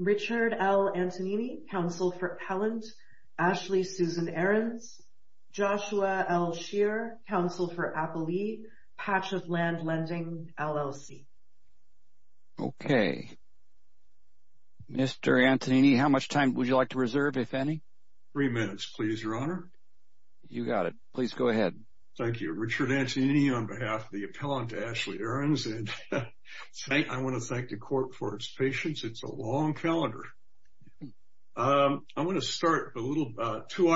Richard L. Antonini, counsel for Pellant, Ashley Susan Aarons, Joshua L. Scheer, counsel for Appalee, Patchett Land Lending, LLC Okay, Mr. Antonini, how much time would you like to reserve, if any? Three minutes, please, Your Honor. You got it. Please go ahead. Thank you. Richard Antonini on behalf of the appellant Ashley Aarons, and I want to thank the court for its patience. It's a long calendar. I want to start a little about two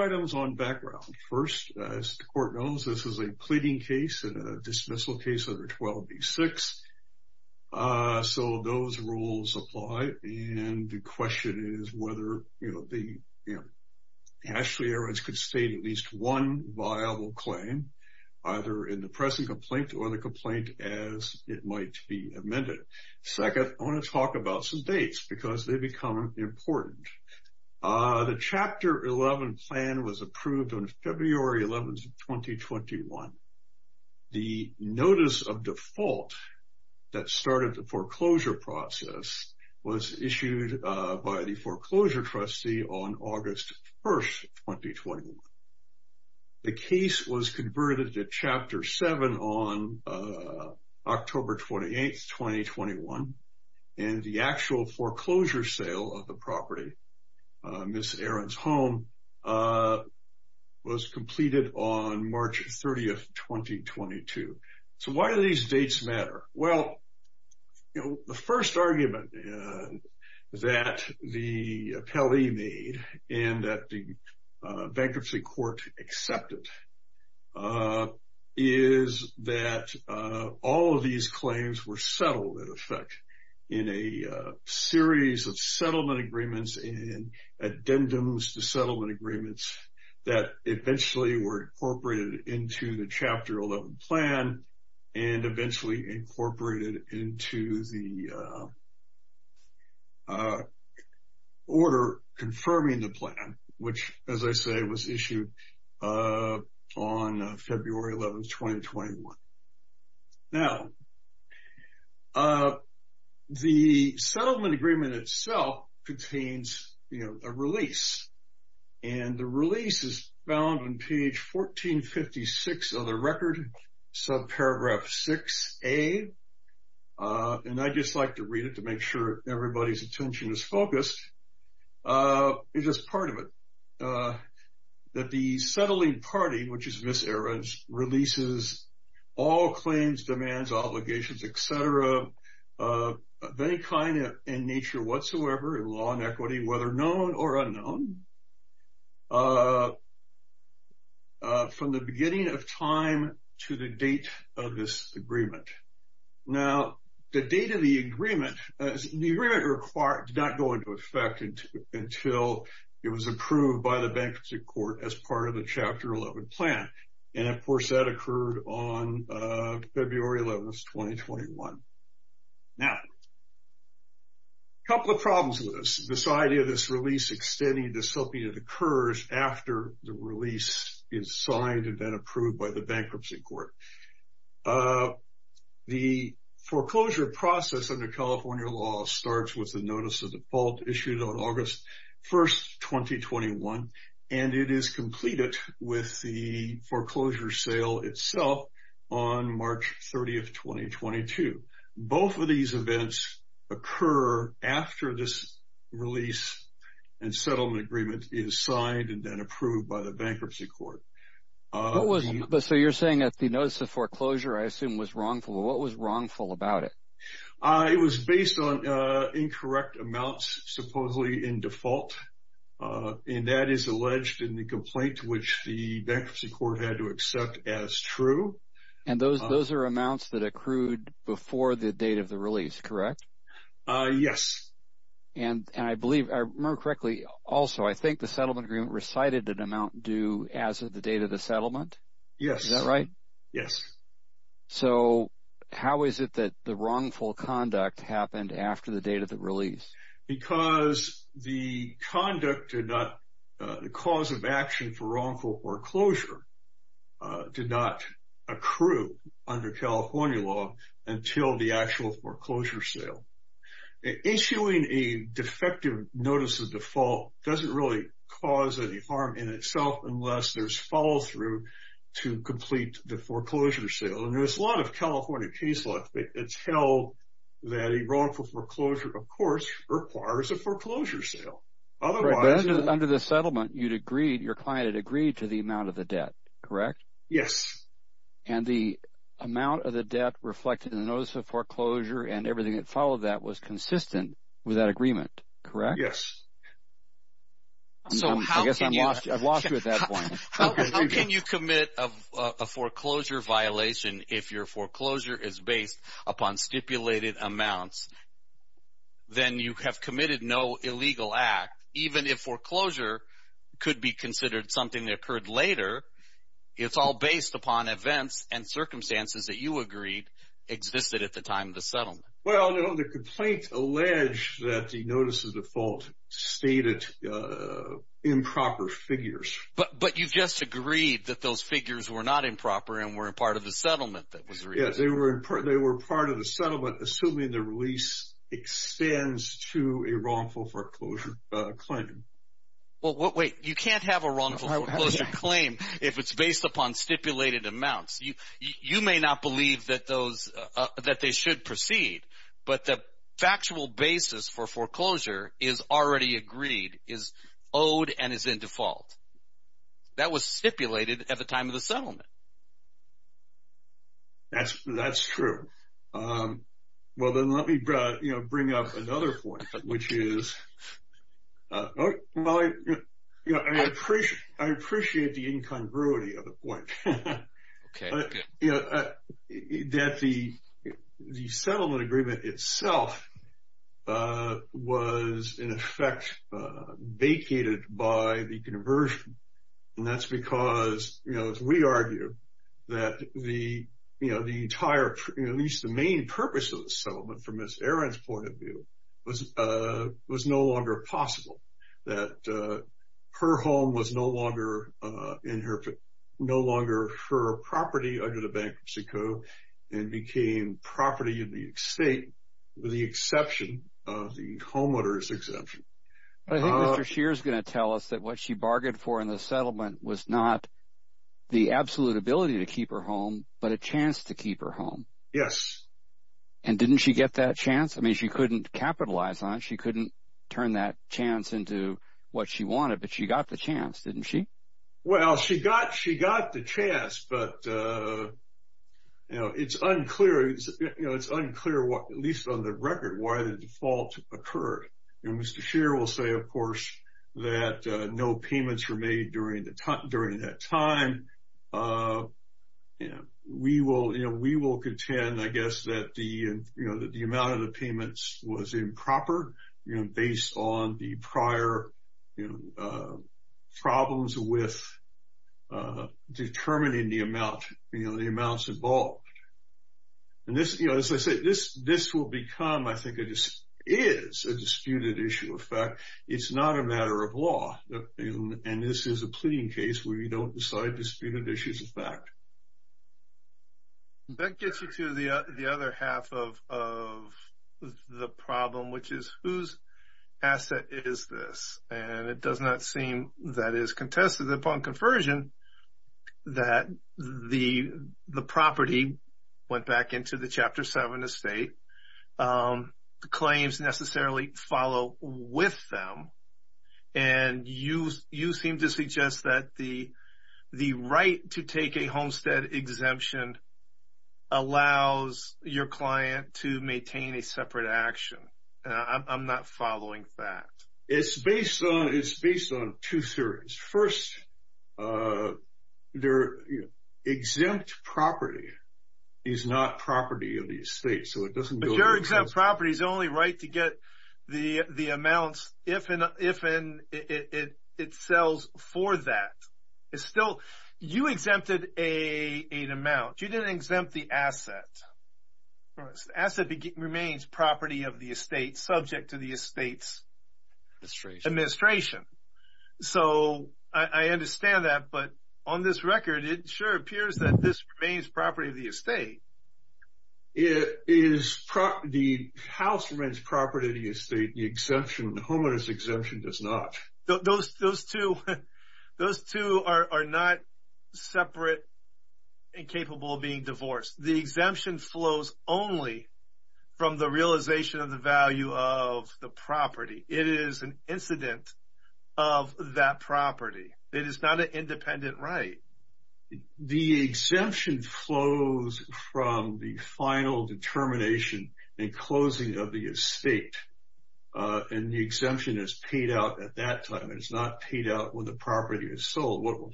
items on background. First, as the court knows, this is a pleading case and a dismissal case under 12B6. So those rules apply. And the question is whether the Ashley Aarons could state at least one viable claim, either in the present complaint or the complaint as it might be amended. Second, I want to talk about some dates because they become important. The Chapter 11 plan was approved on February 11th, 2021. The notice of default that started the foreclosure process was issued by the foreclosure trustee on August 1st, 2021. The case was converted to Chapter 7 on October 28th, 2021. And the actual foreclosure sale of property, Ms. Aarons' home, was completed on March 30th, 2022. So why do these dates matter? Well, the first argument that the appellee made and that the bankruptcy court accepted is that all of these claims were settled, in effect, in a series of settlement agreements and addendums to settlement agreements that eventually were incorporated into the Chapter 11 plan and eventually incorporated into the order confirming the plan, which, as I say, was issued on February 11th, 2021. Now, the settlement agreement itself contains a release. And the release is found on page 1456 of the record, subparagraph 6A. And I just like to which is Ms. Aarons' releases, all claims, demands, obligations, et cetera, of any kind in nature whatsoever, in law and equity, whether known or unknown, from the beginning of time to the date of this agreement. Now, the date of the agreement, the agreement did not go into effect until it was approved by the bankruptcy court as part of Chapter 11 plan. And of course, that occurred on February 11th, 2021. Now, a couple of problems with this. This idea of this release extending to something that occurs after the release is signed and then approved by the bankruptcy court. The foreclosure process under California law starts with the notice of default issued on August 1st, 2021. And it is completed with the foreclosure sale itself on March 30th, 2022. Both of these events occur after this release and settlement agreement is signed and then approved by the bankruptcy court. So you're saying that the notice of foreclosure, I assume was wrongful. What was wrongful about it? It was based on incorrect amounts supposedly in default. And that is alleged in the complaint which the bankruptcy court had to accept as true. And those are amounts that accrued before the date of the release, correct? Yes. And I believe, if I remember correctly, also, I think the settlement agreement recited an amount due as of the date of the settlement? Yes. Is that right? Yes. So how is it that the wrongful conduct happened after the date of the release? Because the conduct did not, the cause of action for wrongful foreclosure did not accrue under California law until the actual foreclosure sale. Issuing a defective notice of default doesn't really cause any harm in itself unless there's follow-through to complete the foreclosure sale. And there's a lot of California case law that tell that a wrongful foreclosure, of course, requires a foreclosure sale. Under the settlement, you'd agreed, your client had agreed to the amount of the debt, correct? Yes. And the amount of the debt reflected in the notice of foreclosure and everything that followed that was consistent with that agreement, correct? Yes. I guess I've lost you at that point. How can you commit a foreclosure violation if your foreclosure is based upon stipulated amounts then you have committed no illegal act, even if foreclosure could be considered something that occurred later, it's all based upon events and circumstances that you agreed existed at the time of the settlement. Well, the complaint alleged that the notice of default stated improper figures. But you just agreed that those figures were not improper and were a part of the settlement that was released. Yes, they were part of the settlement assuming the release extends to a wrongful foreclosure claim. Well, wait, you can't have a wrongful foreclosure claim if it's based upon stipulated amounts. You may not believe that they should proceed, but the factual basis for foreclosure is already agreed, is owed, and is in default. That was stipulated at the time of the settlement. That's true. Well, then let me bring up another point, which is, well, I appreciate the incongruity of the point. That the settlement agreement itself was, in effect, vacated by the conversion. And that's because, as we argue, that the entire, at least the main purpose of the settlement from Aaron's point of view, was no longer possible. That her home was no longer in her, no longer her property under the Bankruptcy Code, and became property of the estate with the exception of the homeowner's exemption. I think Mr. Scheer is going to tell us that what she bargained for in the settlement was not the absolute ability to keep her home, but a chance to keep her home. Yes. And didn't she get that chance? I mean, she couldn't capitalize on it. She couldn't turn that chance into what she wanted, but she got the chance, didn't she? Well, she got the chance, but it's unclear, at least on the record, why the default occurred. And Mr. Scheer will say, of course, that no payments were made during that time. And we will contend, I guess, that the amount of the payments was improper, based on the prior problems with determining the amounts involved. And this, as I said, this will become, I think, is a disputed issue. In fact, it's not a matter of law. And this is a pleading case where you don't decide the disputed issue is a fact. That gets you to the other half of the problem, which is whose asset is this? And it does not seem that is contested upon conversion that the property went back into the Chapter 7 estate. The claims necessarily follow with them. And you seem to suggest that the right to take a homestead exemption allows your client to maintain a separate action. I'm not following that. It's based on two theories. First, their exempt property is not property of the estate, but your exempt property is only right to get the amounts if it sells for that. You exempted an amount. You didn't exempt the asset. The asset remains property of the estate, subject to the estate's administration. So I understand that. But on this record, it sure appears that this remains property of the estate. The house remains property of the estate. The exemption, the homeowner's exemption does not. Those two are not separate and capable of being divorced. The exemption flows only from the realization of the value of the property. It is an incident of that property. It is not an independent right. The exemption flows from the final determination and closing of the estate. And the exemption is paid out at that time. It is not paid out when the property is sold.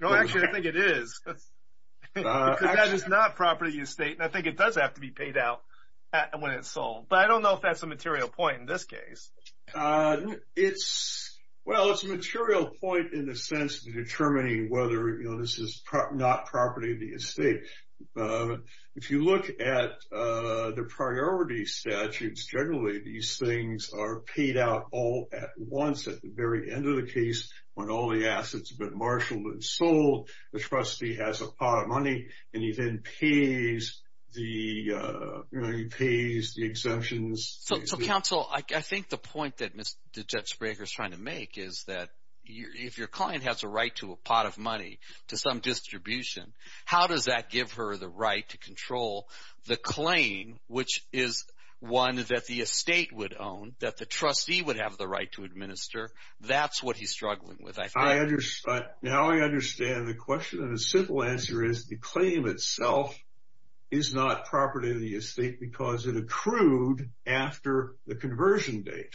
No, actually, I think it is. Because that is not property of the estate, and I think it does have to be paid out when it's sold. But I don't know if that's a material point in this case. Well, it's a material point in the sense of determining whether this is not property of the estate. If you look at the priority statutes, generally these things are paid out all at once at the very end of the case when all the assets have been marshaled and sold. The trustee has a pot of money and he then pays the exemptions. So, counsel, I think the point that Judge Braker is trying to make is that if your client has a right to a pot of money to some distribution, how does that give her the right to control the claim, which is one that the estate would own, that the trustee would have the right to administer? That's what he's asking. And a simple answer is the claim itself is not property of the estate because it accrued after the conversion date.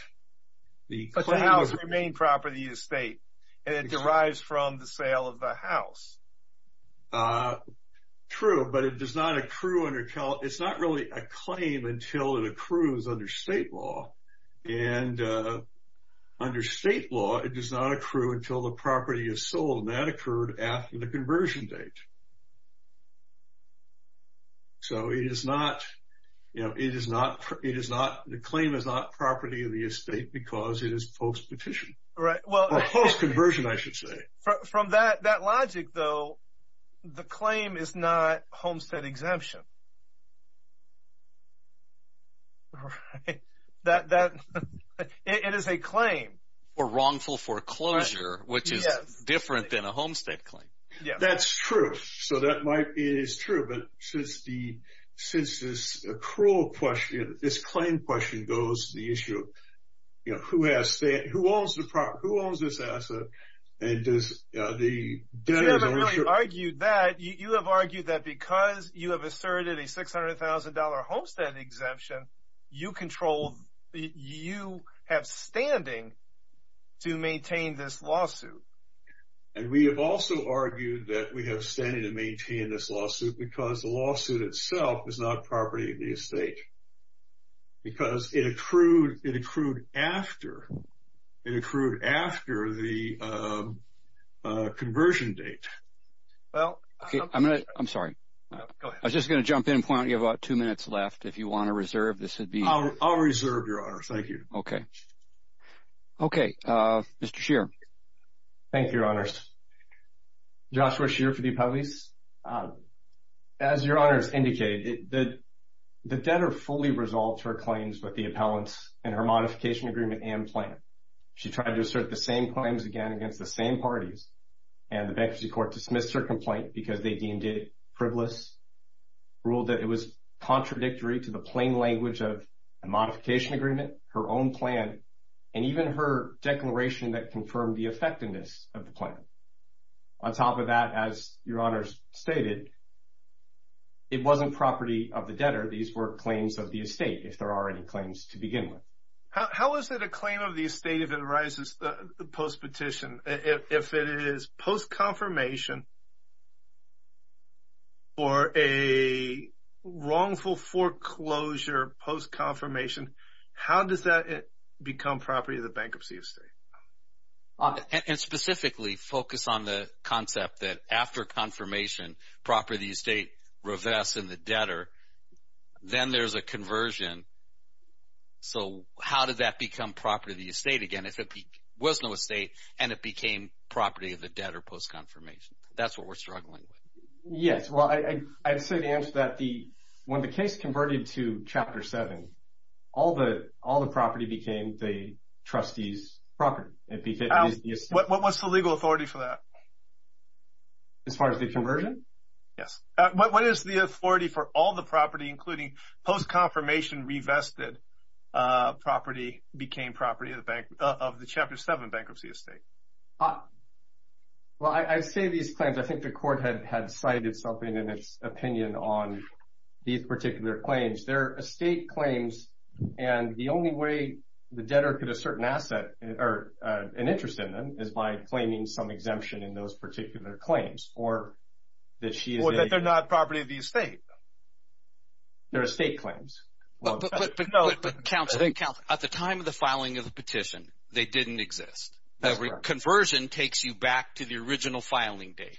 But the house remained property of the estate, and it derives from the sale of the house. True, but it does not accrue under—it's not really a claim until it accrues under state law. And under state law, it does not accrue until the property is sold, and that is after the conversion date. So, it is not—the claim is not property of the estate because it is post-petition. Or post-conversion, I should say. From that logic, though, the claim is not homestead exemption. It is a claim. Or wrongful foreclosure, which is different than a homestead claim. That's true. So, that might be—it is true. But since the—since this accrual question, this claim question goes to the issue of, you know, who has—who owns the property? Who owns this asset? And does the debtor— You haven't really argued that. You have argued that because you have asserted a $600,000 homestead exemption, you control—you have standing to maintain this lawsuit. And we have also argued that we have standing to maintain this lawsuit because the lawsuit itself is not property of the estate. Because it accrued—it accrued after—it accrued after the conversion date. Well— Okay, I'm going to—I'm sorry. Go ahead. I was just going to jump in. Why don't you have about two minutes left if you want to reserve? This would be— I'll reserve, Your Honors. Thank you. Okay. Okay. Mr. Scheer. Thank you, Your Honors. Joshua Scheer for the Appellees. As Your Honors indicated, the debtor fully resolved her claims with the appellants in her modification agreement and plan. She tried to assert the same claims again against the same parties. And the bankruptcy court dismissed her complaint because they deemed it frivolous, ruled that it was contradictory to the plain language of a modification agreement, her own plan, and even her declaration that confirmed the effectiveness of the plan. On top of that, as Your Honors stated, it wasn't property of the debtor. These were claims of the estate, if there are any claims to begin with. How is it a claim of the estate if it arises post-petition? If it is post-confirmation or a wrongful foreclosure post-confirmation, how does that become property of the bankruptcy estate? And specifically, focus on the concept that after confirmation, property of the estate revests in the debtor. Then there's a conversion. So how did that become property of the estate again if it was no estate and it became property of the debtor post-confirmation? That's what we're struggling with. Yes. Well, I'd say the answer to that, when the case converted to Chapter 7, all the property became the trustee's property. What's the legal authority for that? As far as the conversion? Yes. What is the authority for all the property, including post-confirmation, revested property, became property of the Chapter 7 bankruptcy estate? Well, I say these claims, I think the Court had cited something in its opinion on these particular claims. They're estate claims and the only way the debtor could assert an asset or an interest in them is by claiming some exemption in those particular claims. Or that they're not property of the estate. They're estate claims. But counsel, at the time of the filing of the petition, they didn't exist. Conversion takes you back to the original filing date.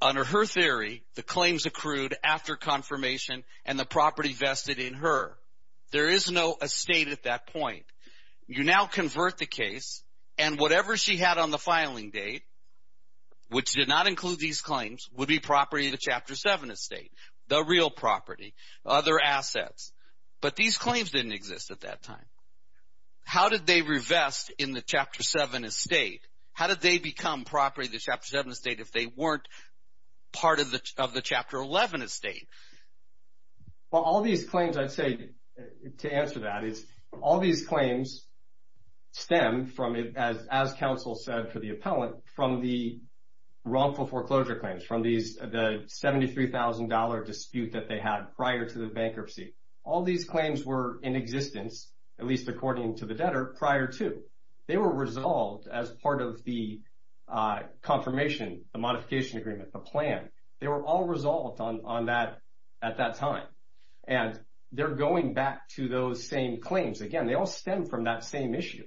Under her theory, the claims accrued after confirmation and the property vested in her. There is no estate at that point. You now convert the case and whatever she had on the filing date, which did not include these claims, would be property of the Chapter 7 estate, the real property, other assets. But these claims didn't exist at that time. How did they revest in the Chapter 7 estate? How did they become property of the Chapter 7 estate if they weren't part of the Chapter 11 estate? Well, all these claims, I'd say to answer that, all these claims stem from, as counsel said for the appellant, from the wrongful foreclosure claims, from the $73,000 dispute that they had prior to the bankruptcy. All these claims were in existence, at least according to the debtor, prior to. They were resolved as part of the confirmation, the modification agreement, the plan. They were all resolved on that at that time. And they're going back to those same claims. Again, they all stem from that same issue.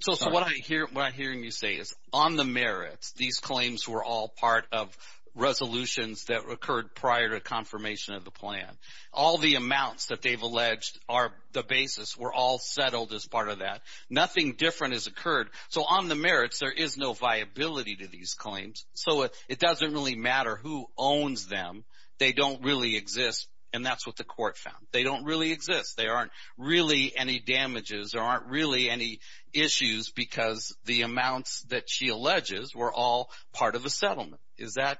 So what I'm hearing you say is, on the merits, these claims were all part of resolutions that occurred prior to confirmation of the plan. All the amounts that they've alleged are the basis, were all settled as part of that. Nothing different has occurred. So on the merits, there is no viability to these claims. So it doesn't really matter who owns them. They don't really exist. And that's what the court found. They don't really exist. They aren't really any damages. There aren't really any issues because the amounts that she alleges were all part of a settlement. Is that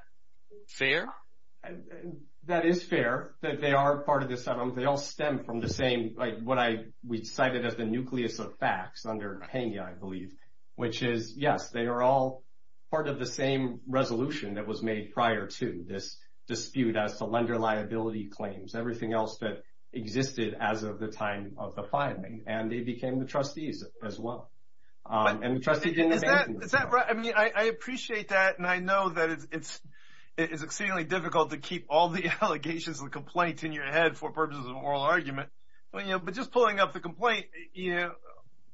fair? That is fair, that they are part of the settlement. They all stem from the same, like what we cited as the nucleus of facts under Hania, I believe, which is, yes, they are all part of the same resolution that was made prior to this dispute as to lender liability claims. Everything else that existed as of the time of the filing. And they became the trustees as well. And the trustee didn't abandon them. Is that right? I mean, I appreciate that. And I know that it's exceedingly difficult to keep all the allegations and complaints in your head for purposes of an oral argument. But just pulling up the complaint, you know,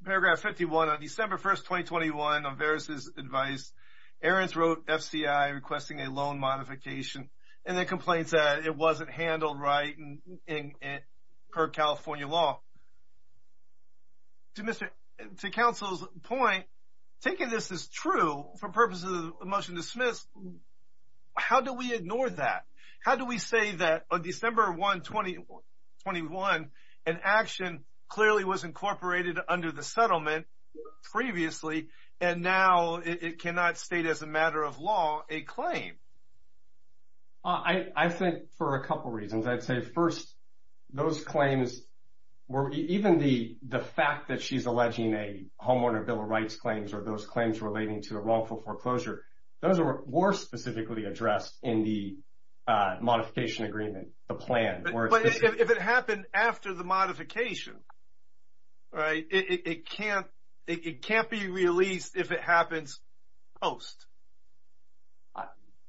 paragraph 51 on December 1st, 2021, on Vera's advice, Aaron's wrote FCI requesting a loan modification and the complaints that it wasn't handled right per California law. To counsel's point, taking this as true for purposes of the motion dismissed, how do we ignore that? How do we say that on December 1, 2021, an action clearly was incorporated under the settlement previously, and now it cannot state as a matter of law, a claim. I think for a couple of reasons, I'd say first, those claims were even the fact that she's alleging a homeowner Bill of Rights claims or those claims relating to the wrongful foreclosure. Those were specifically addressed in the modification agreement, the plan. But if it happened after the modification, right, it can't be released if it happens post.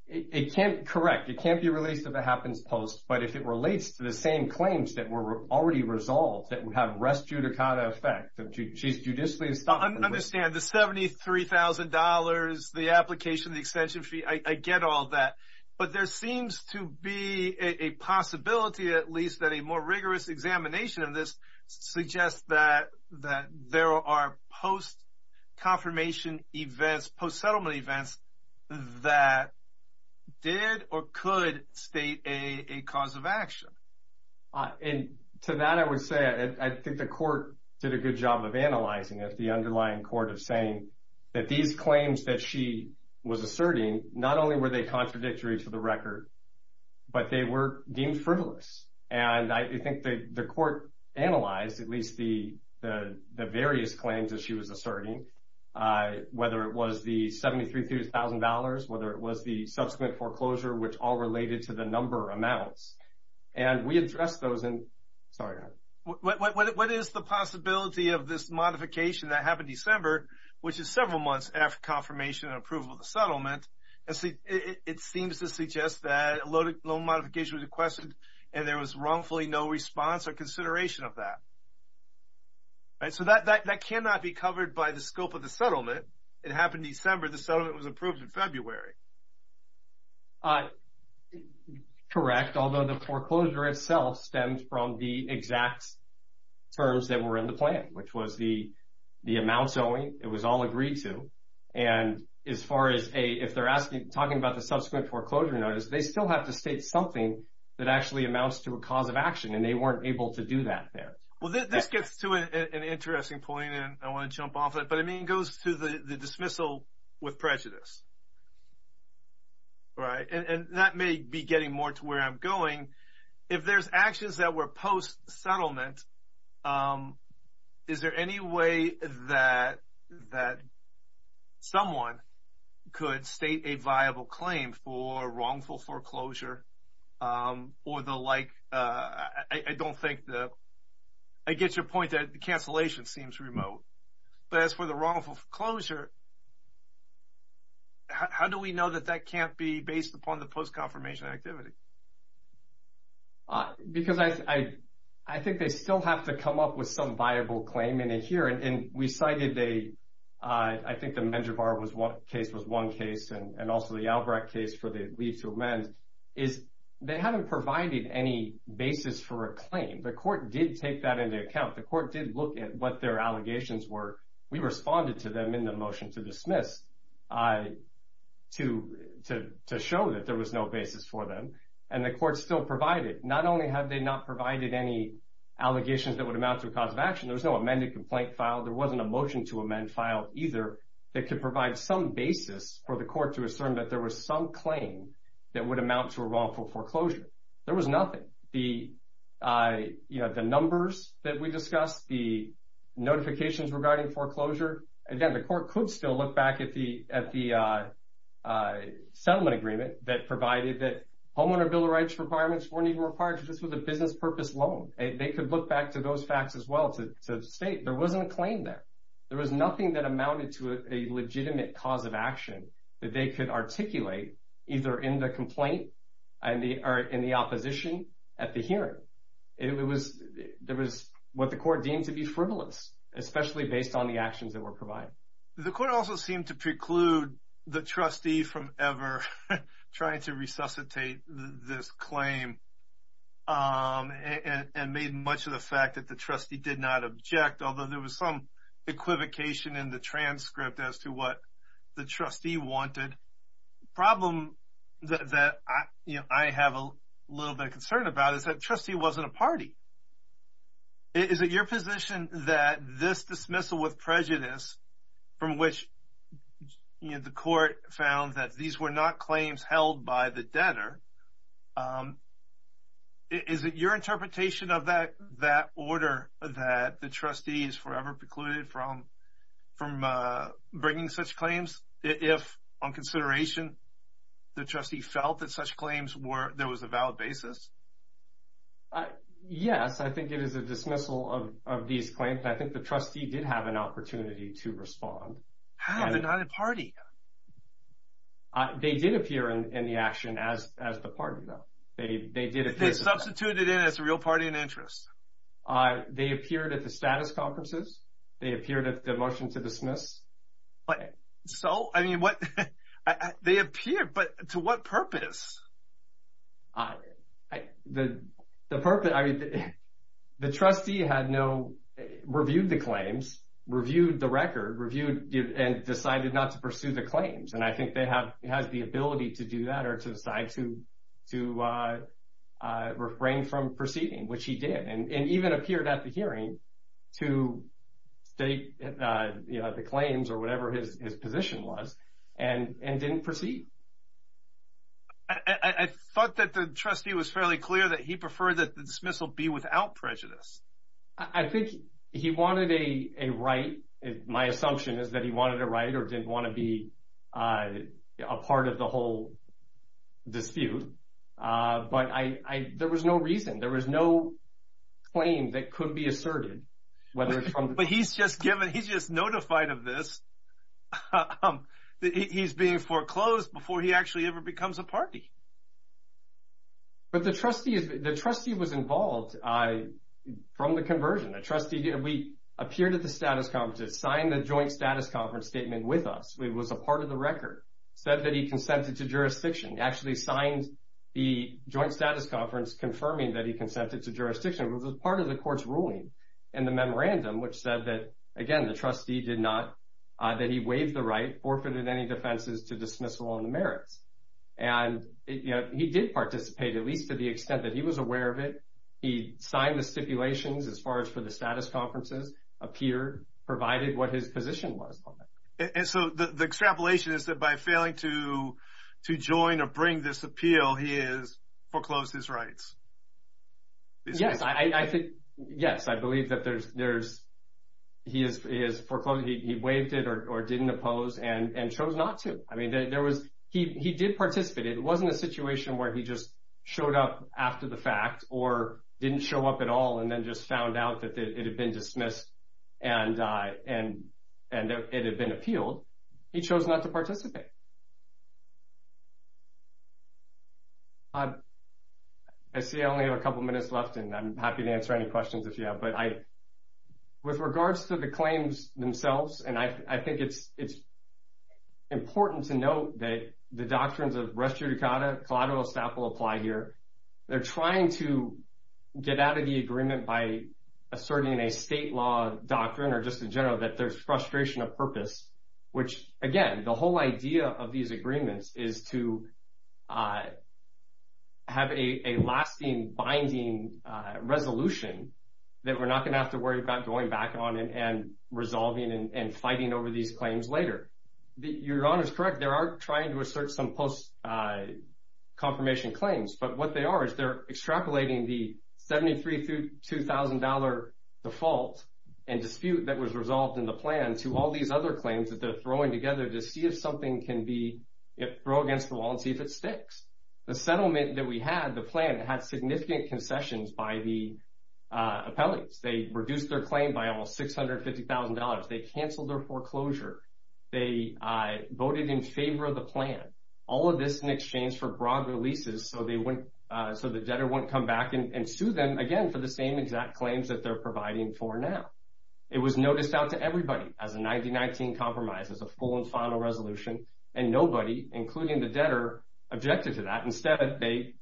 It can't, correct. It can't be released if it happens post. But if it relates to the same claims that were already resolved, that would have res judicata effect, she's judicially understand the $73,000, the application, the extension fee. I get all that. But there seems to be a possibility, at least that a more rigorous examination of this suggests that there are post confirmation events, post settlement events that did or could state a cause of action. And to that, I would say, I think the court did a good job of analyzing it, the underlying court of saying that these claims that she was asserting, not only were they contradictory to the record, but they were deemed frivolous. And I think the court analyzed at least the various claims that she was asserting, whether it was the $73,000, whether it was the subsequent foreclosure, which all related to the number amounts. And we addressed those in, sorry, Howard. Howard Bauchner What is the possibility of this modification that happened December, which is several months after confirmation and approval of the settlement? It seems to suggest that a loan modification was requested, and there was wrongfully no response or consideration of that. So that cannot be covered by the scope of the settlement. It happened December, the settlement was approved in February. Paul Correct. Although the foreclosure itself stems from the exact terms that were in the plan, which was the amounts only, it was all agreed to. And as far as if they're asking, talking about the subsequent foreclosure notice, they still have to state something that actually amounts to a cause of action, and they weren't able to do that there. Joe Well, this gets to an interesting point, and I want to jump off it. But I mean, it goes to the dismissal with prejudice. All right. And that may be getting more to where I'm going. If there's actions that were post-settlement, is there any way that someone could state a viable claim for wrongful foreclosure or the like? I get your point that cancellation seems remote. But as for the wrongful foreclosure, how do we know that that can't be based upon the post-confirmation activity? Paul Because I think they still have to come up with some viable claim in here. And we cited, I think the Menjivar case was one case, and also the Albrecht case for the leave to amend, is they haven't provided any basis for a claim. The court did take that into account. The court did look at what their allegations were. We responded to them in the motion to dismiss to show that there was no basis for them. And the court still provided. Not only have they not provided any allegations that would amount to a cause of action, there was no amended complaint filed. There wasn't a motion to amend filed either that could provide some basis for the court to assume that there was some claim that would amount to a wrongful foreclosure. There was nothing. The numbers that we discussed, the notifications regarding foreclosure, again, the court could still look back at the settlement agreement that provided that homeowner building rights requirements weren't even required. This was a business purpose loan. They could look back to those facts as well to state there wasn't a claim there. There was nothing that amounted to a legitimate cause of action that they could articulate either in the complaint or in the opposition at the hearing. There was what the court deemed to be frivolous, especially based on the actions that were provided. The court also seemed to preclude the trustee from ever trying to resuscitate this claim and made much of the fact that the trustee did not object, although there was some equivocation in the transcript as to what the trustee wanted. The problem that I have a little bit of concern about is that the trustee wasn't a party. Is it your position that this dismissal with prejudice, from which the court found that these were not claims held by the debtor, is it your interpretation of that order that the from bringing such claims if, on consideration, the trustee felt that such claims were, there was a valid basis? Yes, I think it is a dismissal of these claims. I think the trustee did have an opportunity to respond. How? They're not a party. They did appear in the action as the party, though. They substituted in as a real party in interest. They appeared at the status conferences. They appeared at the motion to dismiss. So, I mean, what they appear, but to what purpose? The trustee had no reviewed the claims, reviewed the record, reviewed and decided not to pursue the claims. And I think they have the ability to do that or to decide to I refrain from proceeding, which he did and even appeared at the hearing to state the claims or whatever his position was and didn't proceed. I thought that the trustee was fairly clear that he preferred that the dismissal be without prejudice. I think he wanted a right. My assumption is that he wanted a right or didn't want to be a part of the whole dispute. But I there was no reason. There was no claim that could be asserted. But he's just given he's just notified of this. He's being foreclosed before he actually ever becomes a party. But the trustee, the trustee was involved from the conversion, a trustee. We appeared at the conference, signed the joint status conference statement with us. It was a part of the record said that he consented to jurisdiction, actually signed the joint status conference, confirming that he consented to jurisdiction. It was part of the court's ruling in the memorandum, which said that, again, the trustee did not that he waived the right forfeited any defenses to dismissal on the merits. And he did participate, at least to the extent that he was aware of it. He signed the stipulations as far as for the status conferences appear, provided what his position was. And so the extrapolation is that by failing to to join or bring this appeal, he is foreclosed his rights. Yes, I think. Yes, I believe that there's there's he is he is foreclosed. He waived it or didn't oppose and chose not to. I mean, there was he did participate. It wasn't a situation where he just showed up after the fact or didn't show up at all and then just found out that it had been dismissed and and and it had been appealed. He chose not to participate. I see I only have a couple of minutes left and I'm happy to answer any questions if you have. But I with regards to the claims themselves and I think it's it's important to note that the doctrines of res judicata collateral staff will apply here. They're trying to get out of the agreement by asserting a state law doctrine or just in general, that there's frustration of purpose, which, again, the whole idea of these agreements is to have a lasting binding resolution that we're not going to have to worry about going back on and resolving and fighting over these claims later. Your Honor is correct. There are trying to assert some post confirmation claims, but what they are is they're extrapolating the 73 through 2000 dollar default and dispute that was resolved in the plan to all these other claims that they're throwing together to see if something can be it throw against the wall and see if it sticks. The settlement that we had, the plan had significant concessions by the canceled their foreclosure. They voted in favor of the plan, all of this in exchange for broad releases. So they went so the debtor won't come back and sue them again for the same exact claims that they're providing for now. It was noticed out to everybody as a 19 compromise, as a full and final resolution. And nobody, including the debtor, objected to that. Instead, they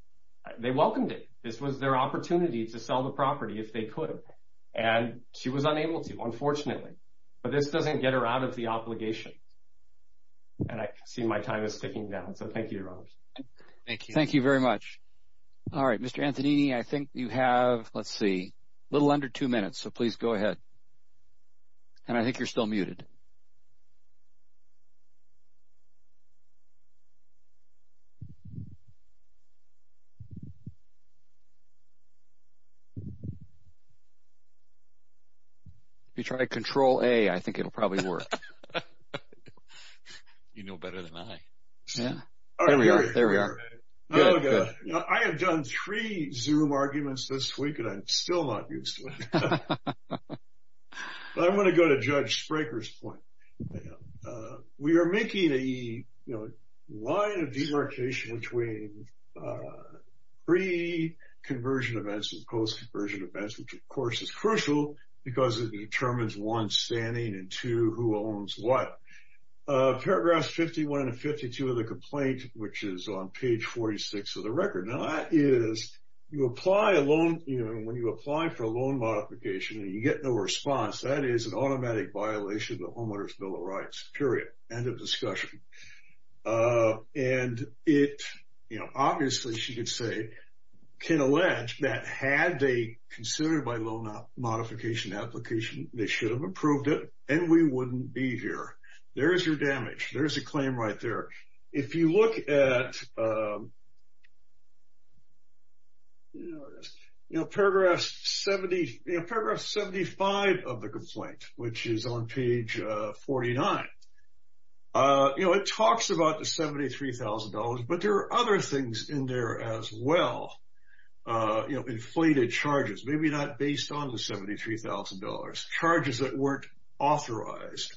welcomed it. This was their opportunity to sell the property if they could. And she was unable to, unfortunately. But this doesn't get her out of the obligation. And I see my time is ticking down. So thank you, Your Honor. Thank you. Thank you very much. All right, Mr. Antonini, I think you have, let's see, a little under two minutes. So please go ahead. And I think you're still muted. If you try control A, I think it'll probably work. You know better than I. Yeah, there we are. There we are. Now, I have done three Zoom arguments this week, and I'm still not used to it. But I'm going to go to Judge Spraker's point. We are making a, you know, line of demarcation between pre-conversion events and post-conversion events, which of course is crucial because it determines one's standing and two, who owns what. Paragraphs 51 and 52 of the complaint, which is on page 46 of the record. Now that is, you apply a loan, you know, and when you apply for a loan modification and you get no response, that is an automatic violation of the Homeowner's Bill of Rights. Period. End of discussion. And it, you know, obviously, she could say, can allege that had they considered my loan modification application, they should have approved it, and we wouldn't be here. There's your damage. There's a claim right there. If you look at, you know, paragraph 70, you know, paragraph 75 of the complaint, which is on page 49, you know, it talks about the $73,000, but there are other things in there as well. You know, inflated charges, maybe not based on the $73,000, charges that weren't authorized.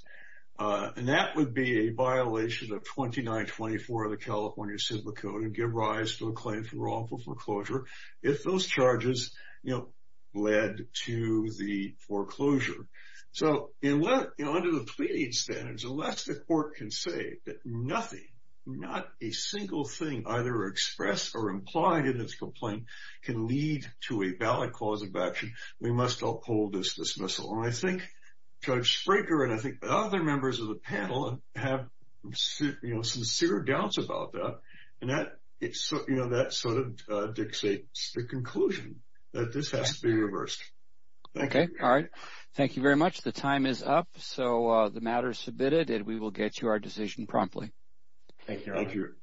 And that would be a violation of 2924 of the California Civil Code and give rise to a claim for wrongful foreclosure if those charges, you know, led to the foreclosure. So, you know, under the pleading standards, unless the court can say that nothing, not a single thing either expressed or implied in this complaint can lead to a valid cause of We must uphold this dismissal. And I think Judge Fraker and I think other members of the panel have, you know, sincere doubts about that. And that, you know, that sort of dictates the conclusion that this has to be reversed. Okay. All right. Thank you very much. The time is up. So, the matter is submitted and we will get you our decision promptly. Thank you.